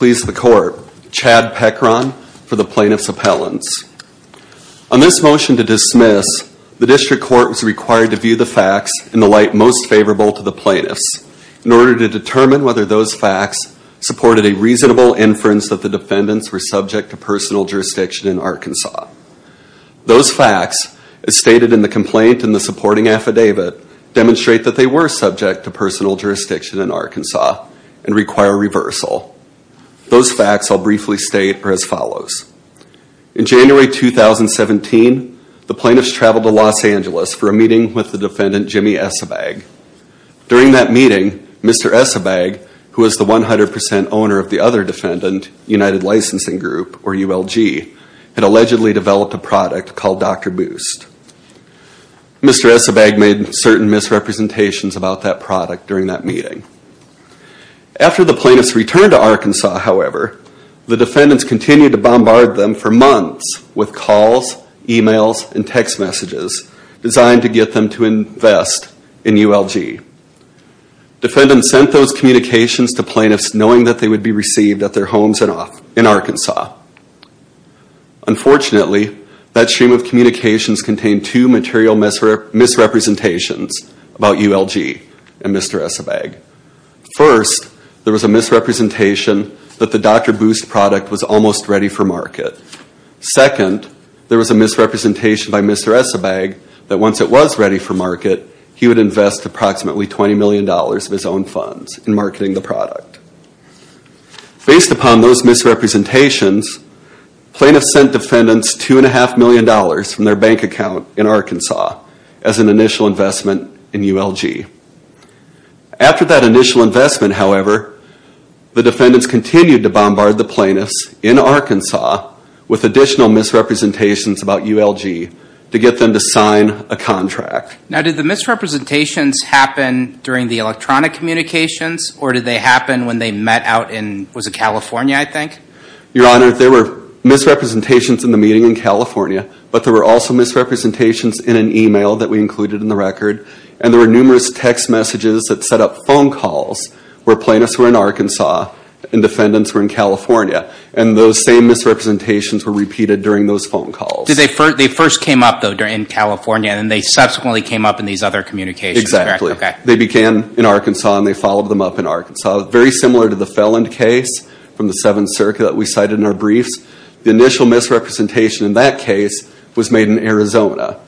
Chad Peckron for the plaintiff's appellants. On this motion to dismiss, the district court was required to view the facts in the light most favorable to the plaintiffs in order to determine whether those facts supported a reasonable inference that the defendants were subject to personal jurisdiction in Arkansas. Those facts, as stated in the complaint in the supporting affidavit, demonstrate that they were subject to personal jurisdiction in Arkansas and require reversal. Those facts, I'll briefly state, are as follows. In January 2017, the plaintiffs traveled to Los Angeles for a meeting with the defendant Jimmy Esebag. During that meeting, Mr. Esebag, who was the 100% owner of the other defendant, United Licensing Group, or ULG, had allegedly developed a product called Dr. Boost. Mr. Esebag made certain misrepresentations about that product during that meeting. After the plaintiffs returned to Arkansas, however, the defendants continued to bombard them for months with calls, emails, and text messages designed to get them to invest in ULG. Defendants sent those communications to plaintiffs knowing that they would be received at their homes in Arkansas. Unfortunately, that stream of communications contained two material misrepresentations about ULG and Mr. Esebag. First, there was a misrepresentation that the Dr. Boost product was almost ready for market. Second, there was a misrepresentation by Mr. Esebag that once it was ready for market, he would invest approximately $20 million of his own funds in marketing the product. Based upon those misrepresentations, plaintiffs sent defendants $2.5 million from their bank account in Arkansas as an initial investment in ULG. After that initial investment, however, the defendants continued to bombard the plaintiffs in Arkansas with additional misrepresentations about ULG to get them to sign a contract. Now, did the misrepresentations happen during the electronic communications, or did they happen when they met out in, was it California, I think? Your Honor, there were misrepresentations in the meeting in California, but there were also misrepresentations in an email that we included in the record, and there were numerous text messages that set up phone calls where plaintiffs were in Arkansas and defendants were in California, and those same misrepresentations were repeated during those phone calls. They first came up, though, in California, and they subsequently came up in these other communications, correct? Exactly. They began in Arkansas, and they followed them up in Arkansas. Very similar to the felon case from the Seventh Circuit that we cited in our briefs, the initial misrepresentation in that case was made in Arizona.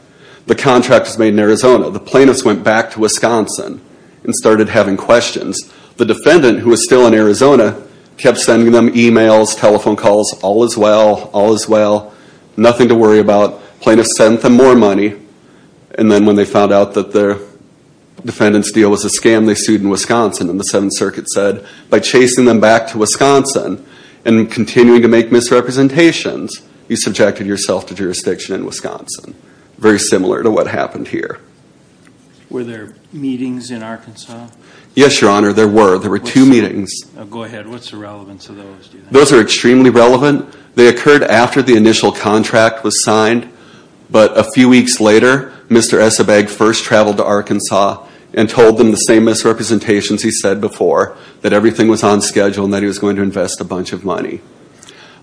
The contract was made in Arizona. The plaintiffs went back to Wisconsin and started having questions. The defendant, who was still in Arizona, kept sending them emails, telephone calls, all is well, all is well, nothing to worry about. Plaintiffs sent them more money, and then when they found out that the defendant's deal was a scam, they sued in Wisconsin, and the Seventh Circuit said, by chasing them back to Wisconsin and continuing to make misrepresentations, you subjected yourself to jurisdiction in Wisconsin. Very similar to what happened here. Were there meetings in Arkansas? Yes, Your Honor, there were. There were two meetings. Go ahead. What's the relevance of those? Those are extremely relevant. They occurred after the initial contract was signed, but a few weeks later, Mr. Esabag first traveled to Arkansas and told them the same misrepresentations he said before, that everything was on schedule and that he was going to invest a bunch of money.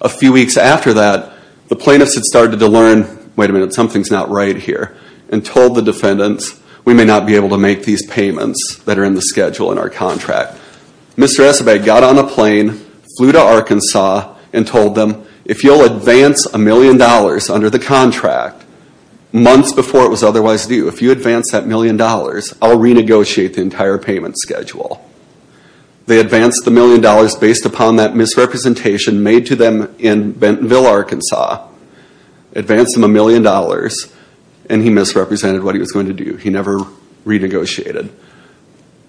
A few weeks after that, the plaintiffs had started to learn, wait a minute, something's not right here, and told the defendants, we may not be able to make these payments that are in the schedule in our contract. Mr. Esabag got on a plane, flew to Arkansas, and told them, if you'll advance a million dollars under the contract, months before it was otherwise due, if you advance that million dollars, I'll renegotiate the entire payment schedule. They advanced the million dollars based upon that misrepresentation made to them in Bentonville, Arkansas, advanced them a million dollars, and he misrepresented what he was going to do. He never renegotiated.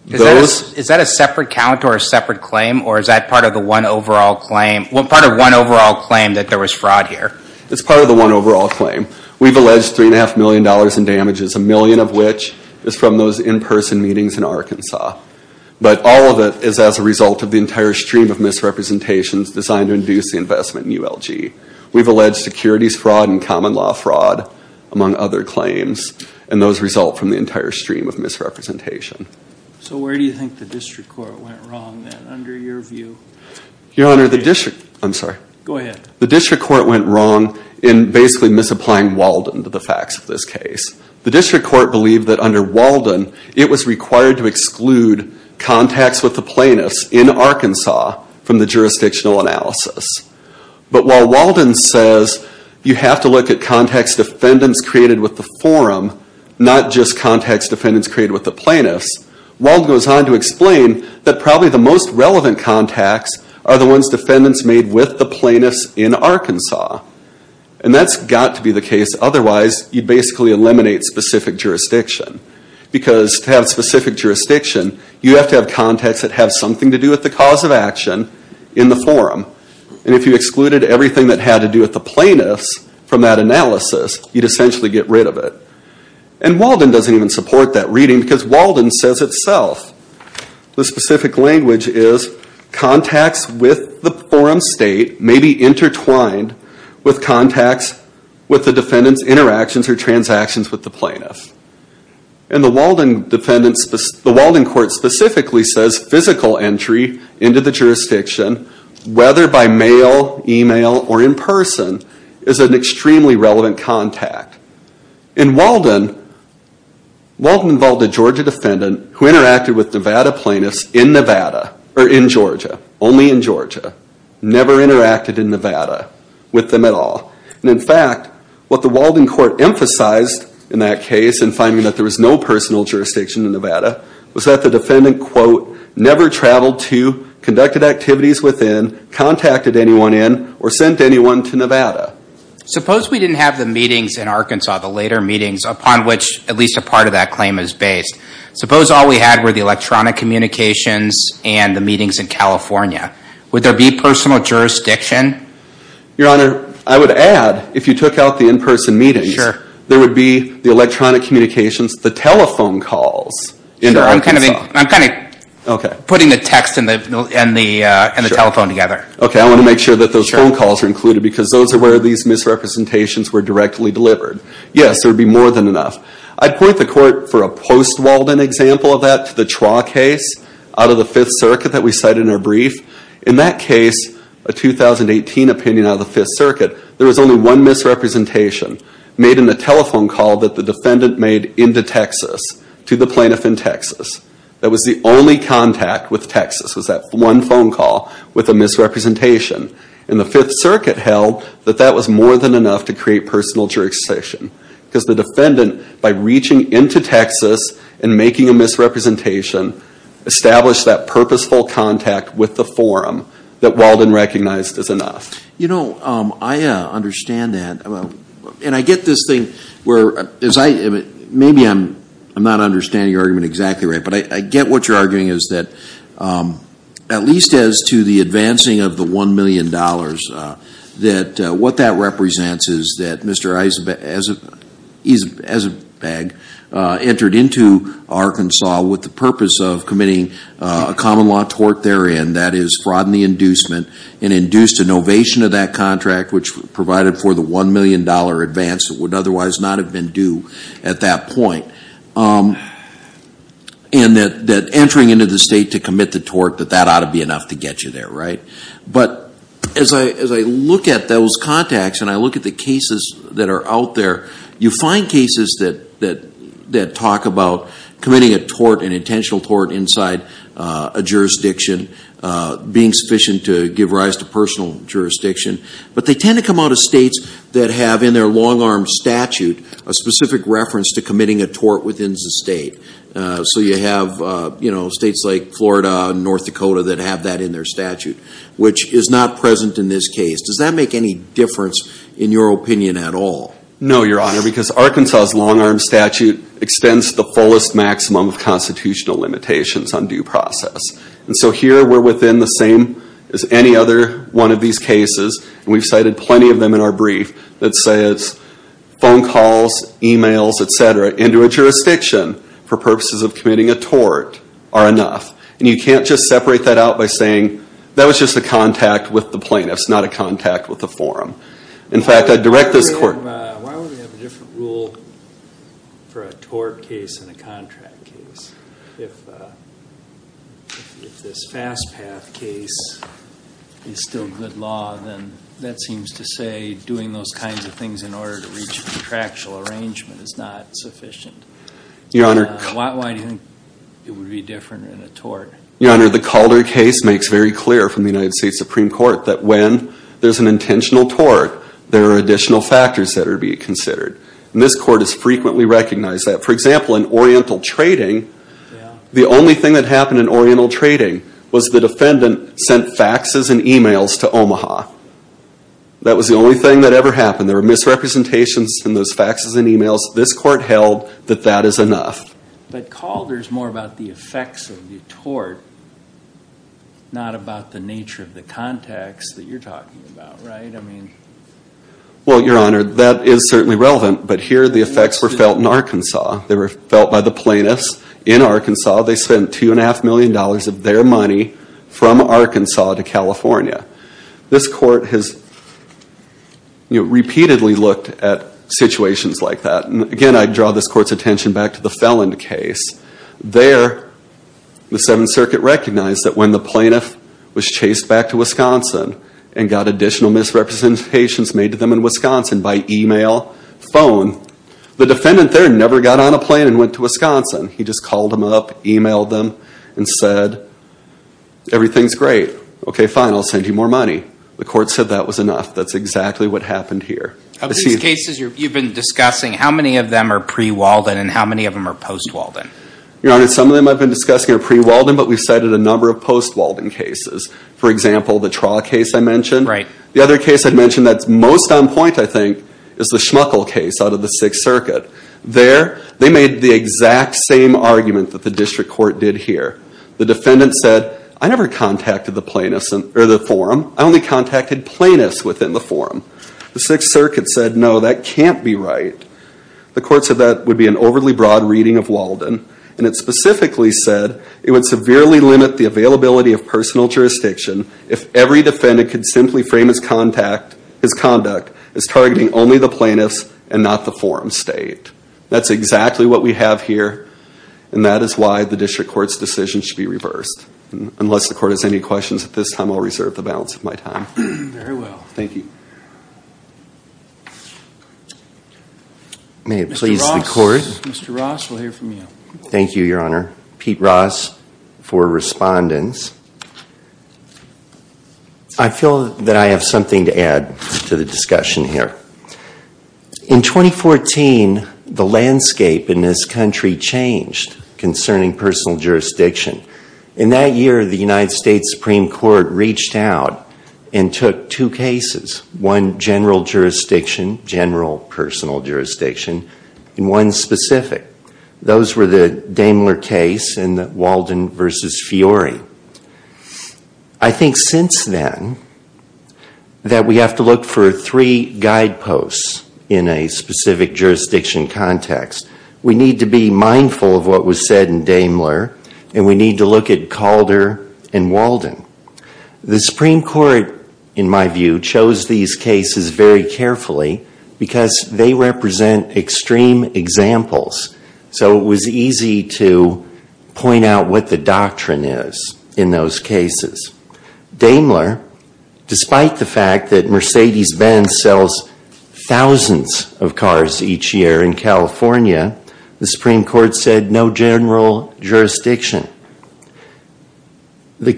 Is that a separate count or a separate claim, or is that part of one overall claim that there was fraud here? It's part of the one overall claim. We've alleged $3.5 million in damages, a million of which is from those in-person meetings in Arkansas. But all of it is as a result of the entire stream of misrepresentations designed to induce the investment in ULG. We've alleged securities fraud and common law fraud, among other claims, and those result from the entire stream of misrepresentation. So where do you think the district court went wrong, then, under your view? Your Honor, the district court went wrong in basically misapplying Walden to the facts of this case. The district court believed that under Walden, it was required to exclude contacts with the plaintiffs in Arkansas from the jurisdictional analysis. But while Walden says you have to look at contacts defendants created with the forum, not just contacts defendants created with the plaintiffs, Walden goes on to explain that probably the most relevant contacts are the ones defendants made with the plaintiffs in Arkansas. And that's got to be the case. Otherwise, you'd basically eliminate specific jurisdiction. Because to have specific jurisdiction, you have to have contacts that have something to do with the cause of action in the forum. And if you excluded everything that had to do with the plaintiffs from that analysis, you'd essentially get rid of it. And Walden doesn't even support that reading, because Walden says itself, the specific language is, contacts with the forum state may be intertwined with contacts with the defendants' interactions or transactions with the plaintiffs. And the Walden court specifically says physical entry into the jurisdiction, whether by mail, email, or in person, is an extremely relevant contact. In Walden, Walden involved a Georgia defendant who interacted with Nevada plaintiffs in Nevada, or in Georgia, only in Georgia. Never interacted in Nevada with them at all. And in fact, what the Walden court emphasized in that case in finding that there was no personal jurisdiction in Nevada, was that the defendant, quote, never traveled to, conducted activities within, contacted anyone in, or sent anyone to Nevada. Suppose we didn't have the meetings in Arkansas, the later meetings, upon which at least a part of that claim is based. Suppose all we had were the electronic communications and the meetings in California. Would there be personal jurisdiction? Your Honor, I would add, if you took out the in person meetings, there would be the electronic communications, the telephone calls in Arkansas. I'm kind of putting the text and the telephone together. Okay, I want to make sure that those phone calls are included because those are where these misrepresentations were directly delivered. Yes, there would be more than enough. I'd point the court for a post-Walden example of that, to the Chua case out of the Fifth Circuit that we cited in our brief. In that case, a 2018 opinion out of the Fifth Circuit, there was only one misrepresentation made in the telephone call that the defendant made into Texas to the plaintiff in Texas. That was the only contact with Texas, was that one phone call with a misrepresentation. And the Fifth Circuit held that that was more than enough to create personal jurisdiction. Because the defendant, by reaching into Texas and making a misrepresentation, established that purposeful contact with the forum that Walden recognized as enough. You know, I understand that. And I get this thing where, maybe I'm not understanding your argument exactly right, but I get what you're arguing is that, at least as to the advancing of the $1 million, that what that represents is that Mr. Eisenbach entered into Arkansas with the purpose of committing a common law tort therein, that is, fraud in the inducement, and induced a novation of that contract, which provided for the $1 million advance that would otherwise not have been due at that point. And that entering into the state to commit the tort, that that ought to be enough to get you there, right? But as I look at those contacts, and I look at the cases that are out there, you find cases that talk about committing a tort, an intentional tort, inside a jurisdiction, being sufficient to give rise to personal jurisdiction. But they tend to come out of states that have in their long-arm statute a specific reference to committing a tort within the state. So you have, you know, states like Florida and North Dakota that have that in their statute, which is not present in this case. Does that make any difference in your opinion at all? No, Your Honor, because Arkansas' long-arm statute extends the fullest maximum of constitutional limitations on due process. And so here we're within the same as any other one of these cases, and we've cited plenty of them in our brief, that says phone calls, e-mails, et cetera, into a jurisdiction for purposes of committing a tort are enough. And you can't just separate that out by saying that was just a contact with the plaintiff, it's not a contact with the forum. In fact, I'd direct this court. Why would we have a different rule for a tort case than a contract case? If this fast path case is still good law, then that seems to say doing those kinds of things in order to reach a contractual arrangement is not sufficient. Your Honor. Why do you think it would be different in a tort? Your Honor, the Calder case makes very clear from the United States Supreme Court that when there's an intentional tort, there are additional factors that are being considered. And this court has frequently recognized that. For example, in Oriental Trading, the only thing that happened in Oriental Trading was the defendant sent faxes and e-mails to Omaha. That was the only thing that ever happened. There were misrepresentations in those faxes and e-mails. This court held that that is enough. But Calder is more about the effects of the tort, not about the nature of the contacts that you're talking about, right? Well, Your Honor, that is certainly relevant. But here the effects were felt in Arkansas. They were felt by the plaintiffs in Arkansas. They spent $2.5 million of their money from Arkansas to California. This court has repeatedly looked at situations like that. Again, I draw this court's attention back to the Felland case. There, the Seventh Circuit recognized that when the plaintiff was chased back to Wisconsin and got additional misrepresentations made to them in Wisconsin by e-mail, phone, the defendant there never got on a plane and went to Wisconsin. He just called them up, e-mailed them, and said, everything's great. Okay, fine, I'll send you more money. The court said that was enough. That's exactly what happened here. Of these cases you've been discussing, how many of them are pre-Walden and how many of them are post-Walden? Your Honor, some of them I've been discussing are pre-Walden, but we've cited a number of post-Walden cases. For example, the Traw case I mentioned. Right. The other case I mentioned that's most on point, I think, is the Schmuckel case out of the Sixth Circuit. There, they made the exact same argument that the district court did here. The defendant said, I never contacted the forum. I only contacted plaintiffs within the forum. The Sixth Circuit said, no, that can't be right. The court said that would be an overly broad reading of Walden, and it specifically said it would severely limit the availability of personal jurisdiction if every defendant could simply frame his conduct as targeting only the plaintiffs and not the forum state. That's exactly what we have here, and that is why the district court's decision should be reversed. Unless the court has any questions at this time, I'll reserve the balance of my time. Very well. Thank you. May it please the court. Mr. Ross, we'll hear from you. Thank you, Your Honor. Pete Ross for respondents. I feel that I have something to add to the discussion here. In 2014, the landscape in this country changed concerning personal jurisdiction. In that year, the United States Supreme Court reached out and took two cases, one general jurisdiction, general personal jurisdiction, and one specific. Those were the Daimler case and the Walden v. Fiore. I think since then that we have to look for three guideposts in a specific jurisdiction context. Daimler, and we need to look at Calder and Walden. The Supreme Court, in my view, chose these cases very carefully because they represent extreme examples, so it was easy to point out what the doctrine is in those cases. Daimler, despite the fact that Mercedes-Benz sells thousands of cars each year in California, the Supreme Court said no general jurisdiction. The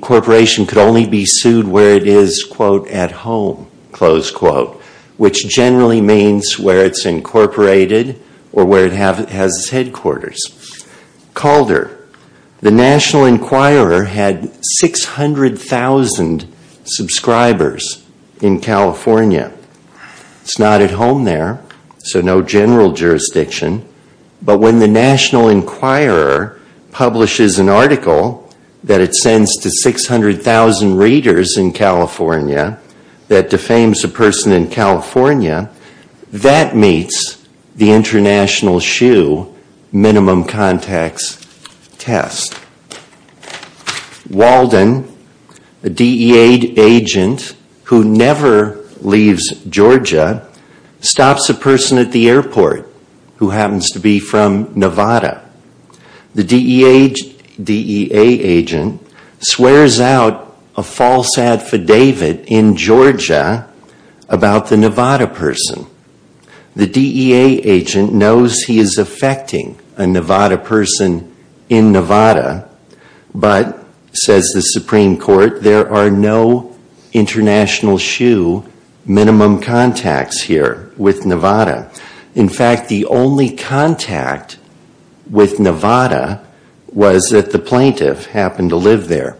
corporation could only be sued where it is, quote, at home, close quote, which generally means where it's incorporated or where it has its headquarters. Calder, the National Enquirer had 600,000 subscribers in California. It's not at home there, so no general jurisdiction, but when the National Enquirer publishes an article that it sends to 600,000 readers in California that defames a person in California, that meets the international shoe minimum context test. Walden, a DEA agent who never leaves Georgia, stops a person at the airport who happens to be from Nevada. The DEA agent swears out a false affidavit in Georgia about the Nevada person. The DEA agent knows he is affecting a Nevada person in Nevada, but, says the Supreme Court, there are no international shoe minimum contacts here with Nevada. In fact, the only contact with Nevada was that the plaintiff happened to live there.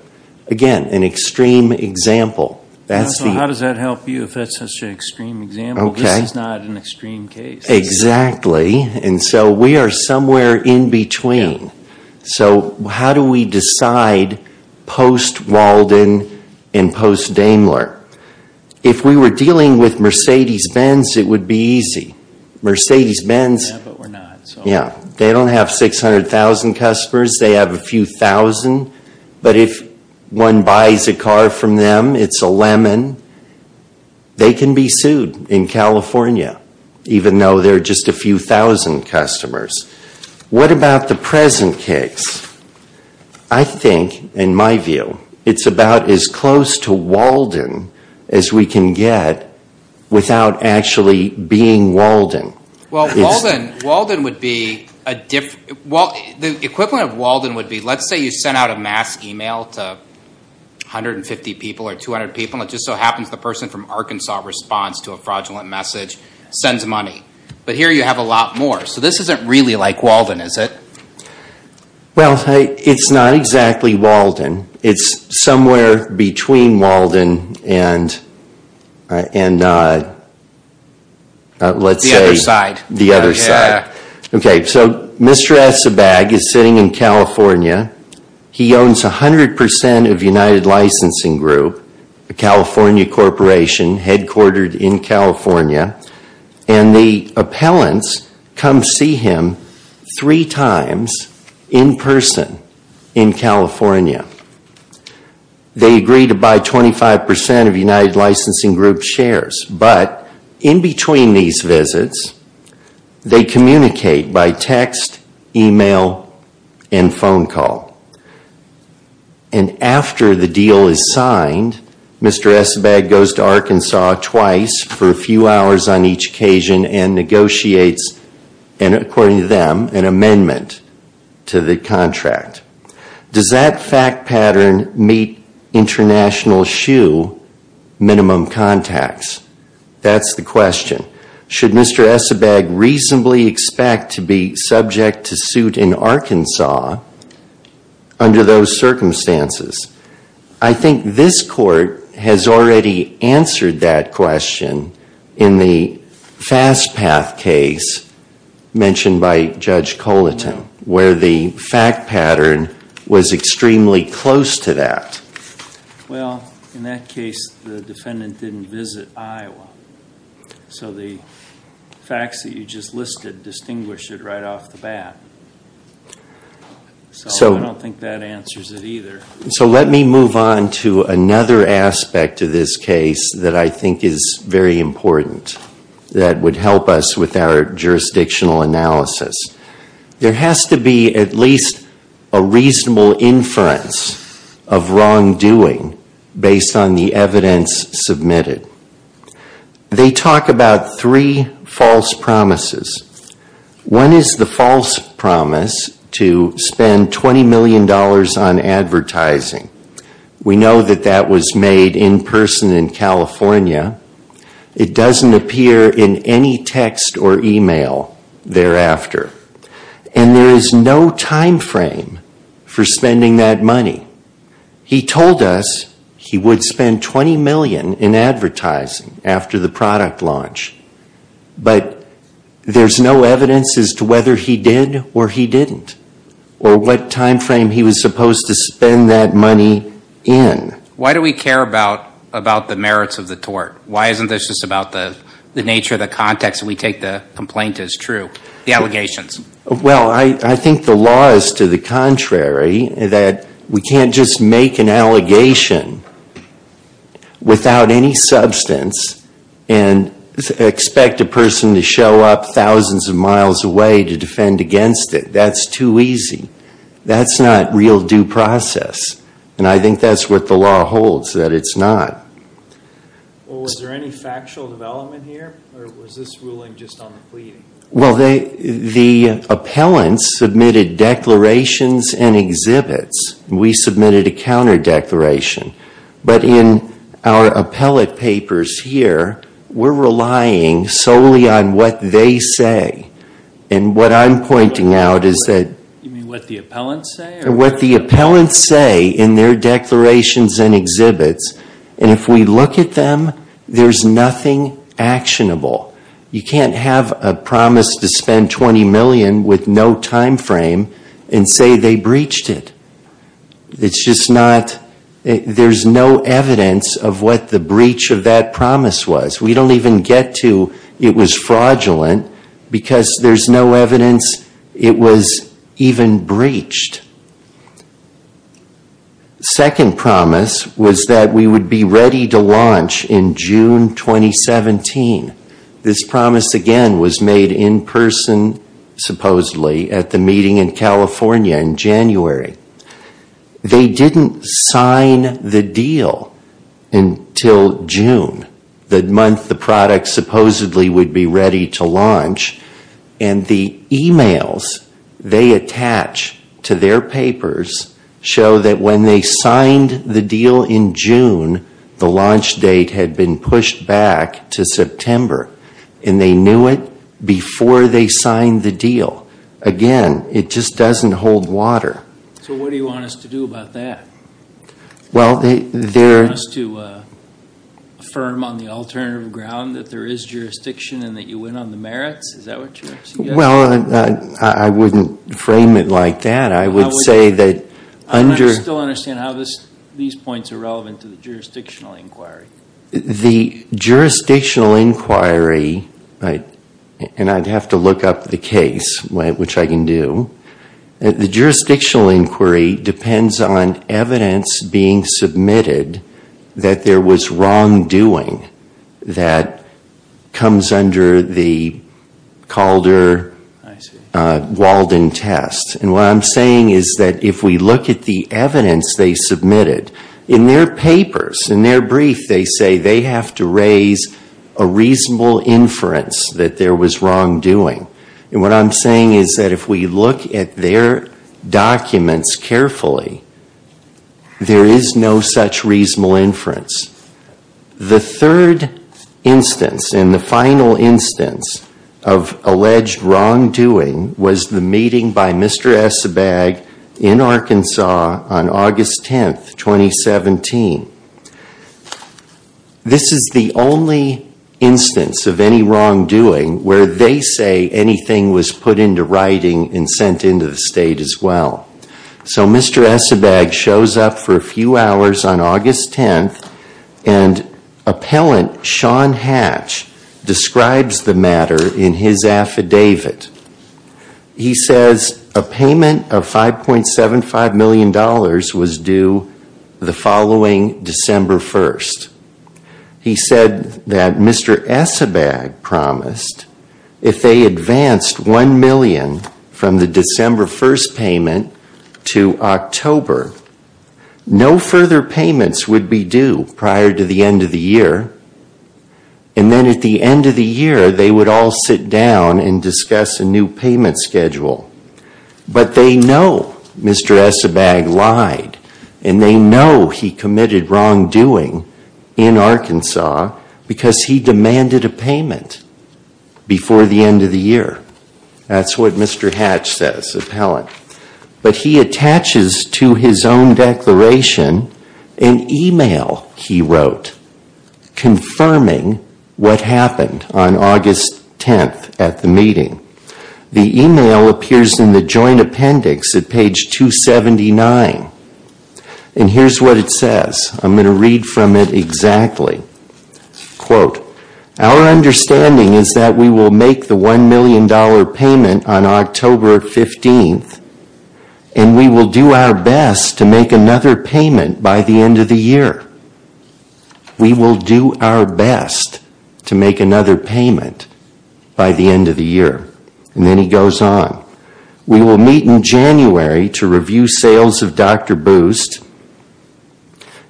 Again, an extreme example. So how does that help you if that's such an extreme example? This is not an extreme case. Exactly. And so we are somewhere in between. So how do we decide post-Walden and post-Daimler? If we were dealing with Mercedes-Benz, it would be easy. Mercedes-Benz, they don't have 600,000 customers. They have a few thousand. But if one buys a car from them, it's a lemon, they can be sued in California, even though there are just a few thousand customers. What about the present case? I think, in my view, it's about as close to Walden as we can get without actually being Walden. Well, the equivalent of Walden would be, let's say you sent out a mass email to 150 people or 200 people, and it just so happens the person from Arkansas responds to a fraudulent message, sends money. But here you have a lot more. So this isn't really like Walden, is it? Well, it's not exactly Walden. It's somewhere between Walden and, let's say, the other side. So Mr. Essebag is sitting in California. He owns 100% of United Licensing Group, a California corporation headquartered in California. And the appellants come see him three times in person in California. They agree to buy 25% of United Licensing Group shares. But in between these visits, they communicate by text, email, and phone call. And after the deal is signed, Mr. Essebag goes to Arkansas twice for a few hours on each occasion and negotiates, according to them, an amendment to the contract. Does that fact pattern meet international SHU minimum contacts? That's the question. Should Mr. Essebag reasonably expect to be subject to suit in Arkansas under those circumstances? I think this court has already answered that question in the fast path case mentioned by Judge Coliton, where the fact pattern was extremely close to that. Well, in that case, the defendant didn't visit Iowa. So the facts that you just listed distinguish it right off the bat. So I don't think that answers it either. So let me move on to another aspect of this case that I think is very important that would help us with our jurisdictional analysis. There has to be at least a reasonable inference of wrongdoing based on the evidence submitted. They talk about three false promises. One is the false promise to spend $20 million on advertising. We know that that was made in person in California. It doesn't appear in any text or email thereafter. And there is no time frame for spending that money. He told us he would spend $20 million in advertising after the product launch. But there's no evidence as to whether he did or he didn't or what time frame he was supposed to spend that money in. Why do we care about the merits of the tort? Why isn't this just about the nature of the context that we take the complaint as true? The allegations. Well, I think the law is to the contrary, that we can't just make an allegation without any substance and expect a person to show up thousands of miles away to defend against it. That's too easy. That's not real due process. And I think that's what the law holds, that it's not. Well, was there any factual development here? Or was this ruling just on the pleading? Well, the appellants submitted declarations and exhibits. We submitted a counter declaration. But in our appellate papers here, we're relying solely on what they say. And what I'm pointing out is that You mean what the appellants say? What the appellants say in their declarations and exhibits, and if we look at them, there's nothing actionable. You can't have a promise to spend $20 million with no time frame and say they breached it. It's just not, there's no evidence of what the breach of that promise was. We don't even get to it was fraudulent because there's no evidence it was even breached. Second promise was that we would be ready to launch in June 2017. This promise, again, was made in person, supposedly, at the meeting in California in January. They didn't sign the deal until June, the month the product supposedly would be ready to launch. And the emails they attach to their papers show that when they signed the deal in June, the launch date had been pushed back to September. And they knew it before they signed the deal. Again, it just doesn't hold water. So what do you want us to do about that? Do you want us to affirm on the alternative ground that there is jurisdiction and that you went on the merits? Is that what you're suggesting? Well, I wouldn't frame it like that. I would say that under... I still don't understand how these points are relevant to the jurisdictional inquiry. The jurisdictional inquiry, and I'd have to look up the case, which I can do. The jurisdictional inquiry depends on evidence being submitted that there was wrongdoing that comes under the Calder-Walden test. And what I'm saying is that if we look at the evidence they submitted, in their papers, in their brief, they say they have to raise a reasonable inference that there was wrongdoing. And what I'm saying is that if we look at their documents carefully, there is no such reasonable inference. The third instance, and the final instance of alleged wrongdoing, was the meeting by Mr. Esabag in Arkansas on August 10, 2017. This is the only instance of any wrongdoing where they say anything was put into writing and sent into the state as well. So Mr. Esabag shows up for a few hours on August 10, and appellant Sean Hatch describes the matter in his affidavit. He says a payment of $5.75 million was due the following December 1. He said that Mr. Esabag promised if they advanced $1 million from the December 1 payment to October, no further payments would be due prior to the end of the year. And then at the end of the year, they would all sit down and discuss a new payment schedule. But they know Mr. Esabag lied, and they know he committed wrongdoing in Arkansas because he demanded a payment before the end of the year. That's what Mr. Hatch says, appellant. But he attaches to his own declaration an email he wrote confirming what happened on August 10 at the meeting. The email appears in the joint appendix at page 279, and here's what it says. I'm going to read from it exactly. Quote, our understanding is that we will make the $1 million payment on October 15, and we will do our best to make another payment by the end of the year. We will do our best to make another payment by the end of the year. And then he goes on. We will meet in January to review sales of Dr. Boost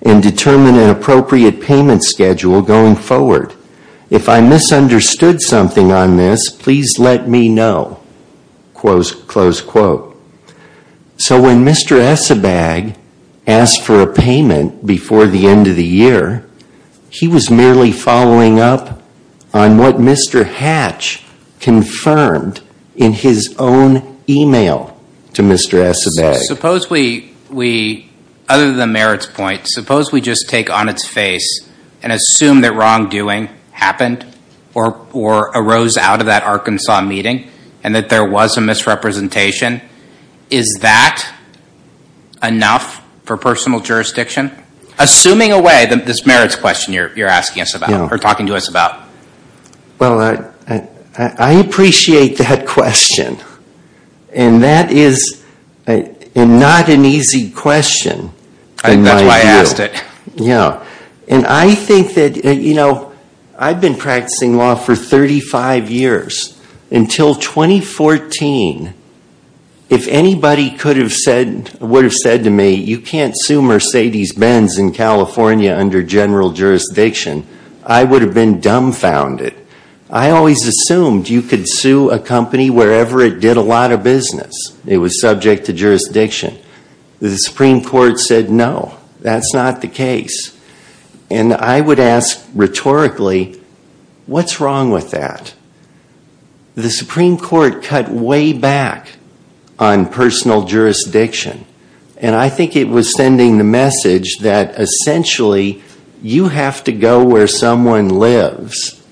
and determine an appropriate payment schedule going forward. If I misunderstood something on this, please let me know, close quote. So when Mr. Esabag asked for a payment before the end of the year, he was merely following up on what Mr. Hatch confirmed in his own email to Mr. Esabag. So suppose we, other than Merritt's point, suppose we just take on its face and assume that wrongdoing happened or arose out of that Arkansas meeting and that there was a misrepresentation. Is that enough for personal jurisdiction? Assuming away this Merritt's question you're asking us about or talking to us about. Well, I appreciate that question. And that is not an easy question in my view. That's why I asked it. Yeah. And I think that, you know, I've been practicing law for 35 years. Until 2014, if anybody could have said, would have said to me, you can't sue Mercedes-Benz in California under general jurisdiction, I would have been dumbfounded. I always assumed you could sue a company wherever it did a lot of business. It was subject to jurisdiction. The Supreme Court said no, that's not the case. And I would ask rhetorically, what's wrong with that? The Supreme Court cut way back on personal jurisdiction. And I think it was sending the message that, essentially, you have to go where someone lives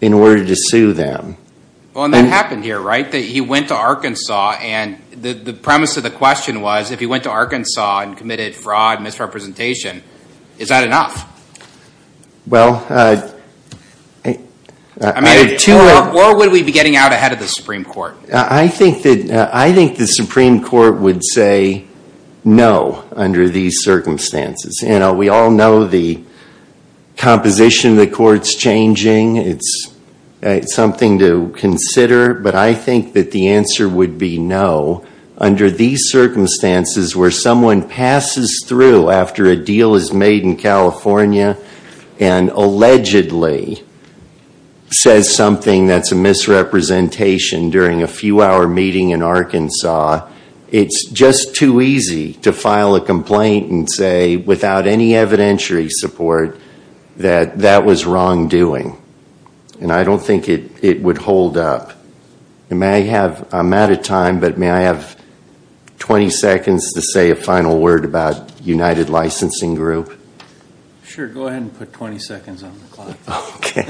in order to sue them. Well, and that happened here, right? He went to Arkansas and the premise of the question was, if he went to Arkansas and committed fraud and misrepresentation, is that enough? Well, I mean, what would we be getting out ahead of the Supreme Court? I think the Supreme Court would say no under these circumstances. You know, we all know the composition of the court's changing. It's something to consider. But I think that the answer would be no under these circumstances where someone passes through after a deal is made in California and allegedly says something that's a misrepresentation during a few-hour meeting in Arkansas. It's just too easy to file a complaint and say, without any evidentiary support, that that was wrongdoing. And I don't think it would hold up. And may I have, I'm out of time, but may I have 20 seconds to say a final word about United Licensing Group? Sure, go ahead and put 20 seconds on the clock. Okay.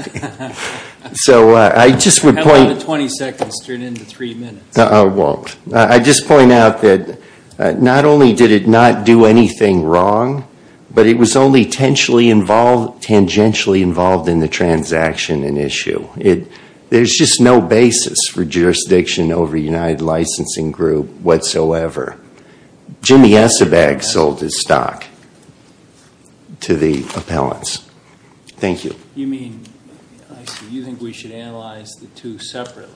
So I just would point- How long did 20 seconds turn into three minutes? Well, I'd just point out that not only did it not do anything wrong, but it was only tangentially involved in the transaction in issue. There's just no basis for jurisdiction over United Licensing Group whatsoever. Jimmy Eisebag sold his stock to the appellants. Thank you. You mean, I see. You think we should analyze the two separately?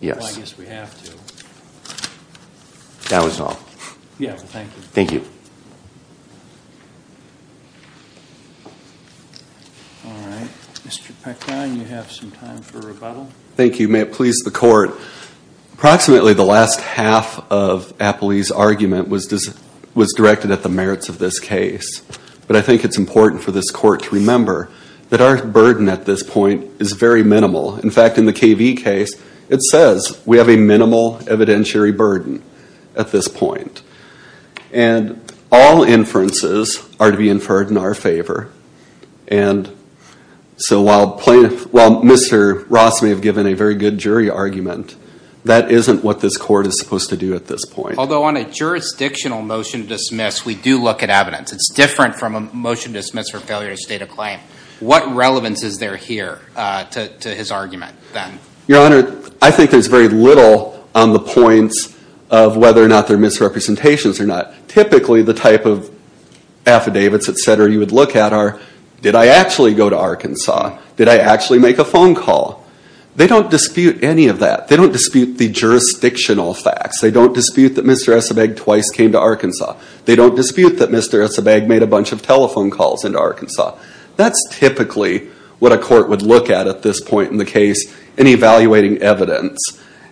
Yes. Well, I guess we have to. That was all. Yeah, thank you. Thank you. All right. Mr. Pecron, you have some time for rebuttal. Thank you. May it please the Court, approximately the last half of Appley's argument was directed at the merits of this case. But I think it's important for this Court to remember that our burden at this point is very minimal. In fact, in the KV case, it says we have a minimal evidentiary burden at this point. And all inferences are to be inferred in our favor. And so while Mr. Ross may have given a very good jury argument, that isn't what this Court is supposed to do at this point. Although on a jurisdictional motion to dismiss, we do look at evidence. It's different from a motion to dismiss for failure to state a claim. What relevance is there here to his argument then? Your Honor, I think there's very little on the points of whether or not they're misrepresentations or not. Typically, the type of affidavits, et cetera, you would look at are, did I actually go to Arkansas? Did I actually make a phone call? They don't dispute any of that. They don't dispute the jurisdictional facts. They don't dispute that Mr. Esabag twice came to Arkansas. They don't dispute that Mr. Esabag made a bunch of telephone calls into Arkansas. That's typically what a court would look at at this point in the case in evaluating evidence.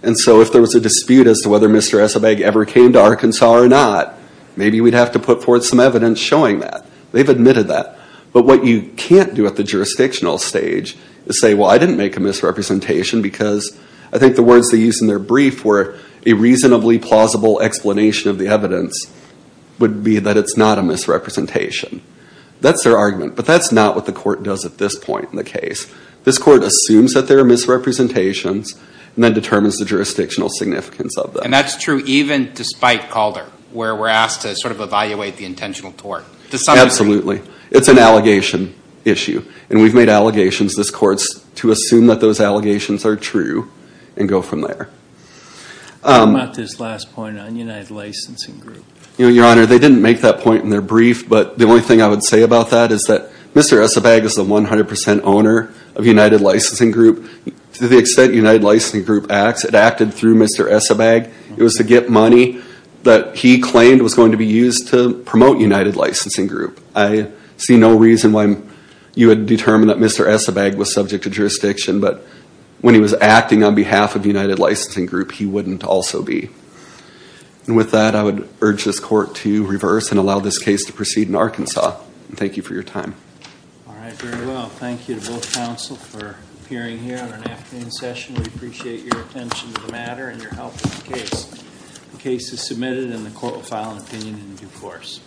And so if there was a dispute as to whether Mr. Esabag ever came to Arkansas or not, maybe we'd have to put forth some evidence showing that. They've admitted that. But what you can't do at the jurisdictional stage is say, well, I didn't make a misrepresentation because I think the words they used in their brief were, a reasonably plausible explanation of the evidence would be that it's not a misrepresentation. That's their argument. But that's not what the court does at this point in the case. This court assumes that there are misrepresentations and then determines the jurisdictional significance of them. And that's true even despite Calder, where we're asked to sort of evaluate the intentional tort. Absolutely. It's an allegation issue. And we've made allegations, this court, to assume that those allegations are true and go from there. What about this last point on United Licensing Group? Your Honor, they didn't make that point in their brief. But the only thing I would say about that is that Mr. Esabag is the 100% owner of United Licensing Group. To the extent United Licensing Group acts, it acted through Mr. Esabag. It was to get money that he claimed was going to be used to promote United Licensing Group. I see no reason why you would determine that Mr. Esabag was subject to jurisdiction. But when he was acting on behalf of United Licensing Group, he wouldn't also be. And with that, I would urge this court to reverse and allow this case to proceed in Arkansas. Thank you for your time. All right, very well. Thank you to both counsel for appearing here on an afternoon session. We appreciate your attention to the matter and your help with the case. The case is submitted and the court will file an opinion in due course.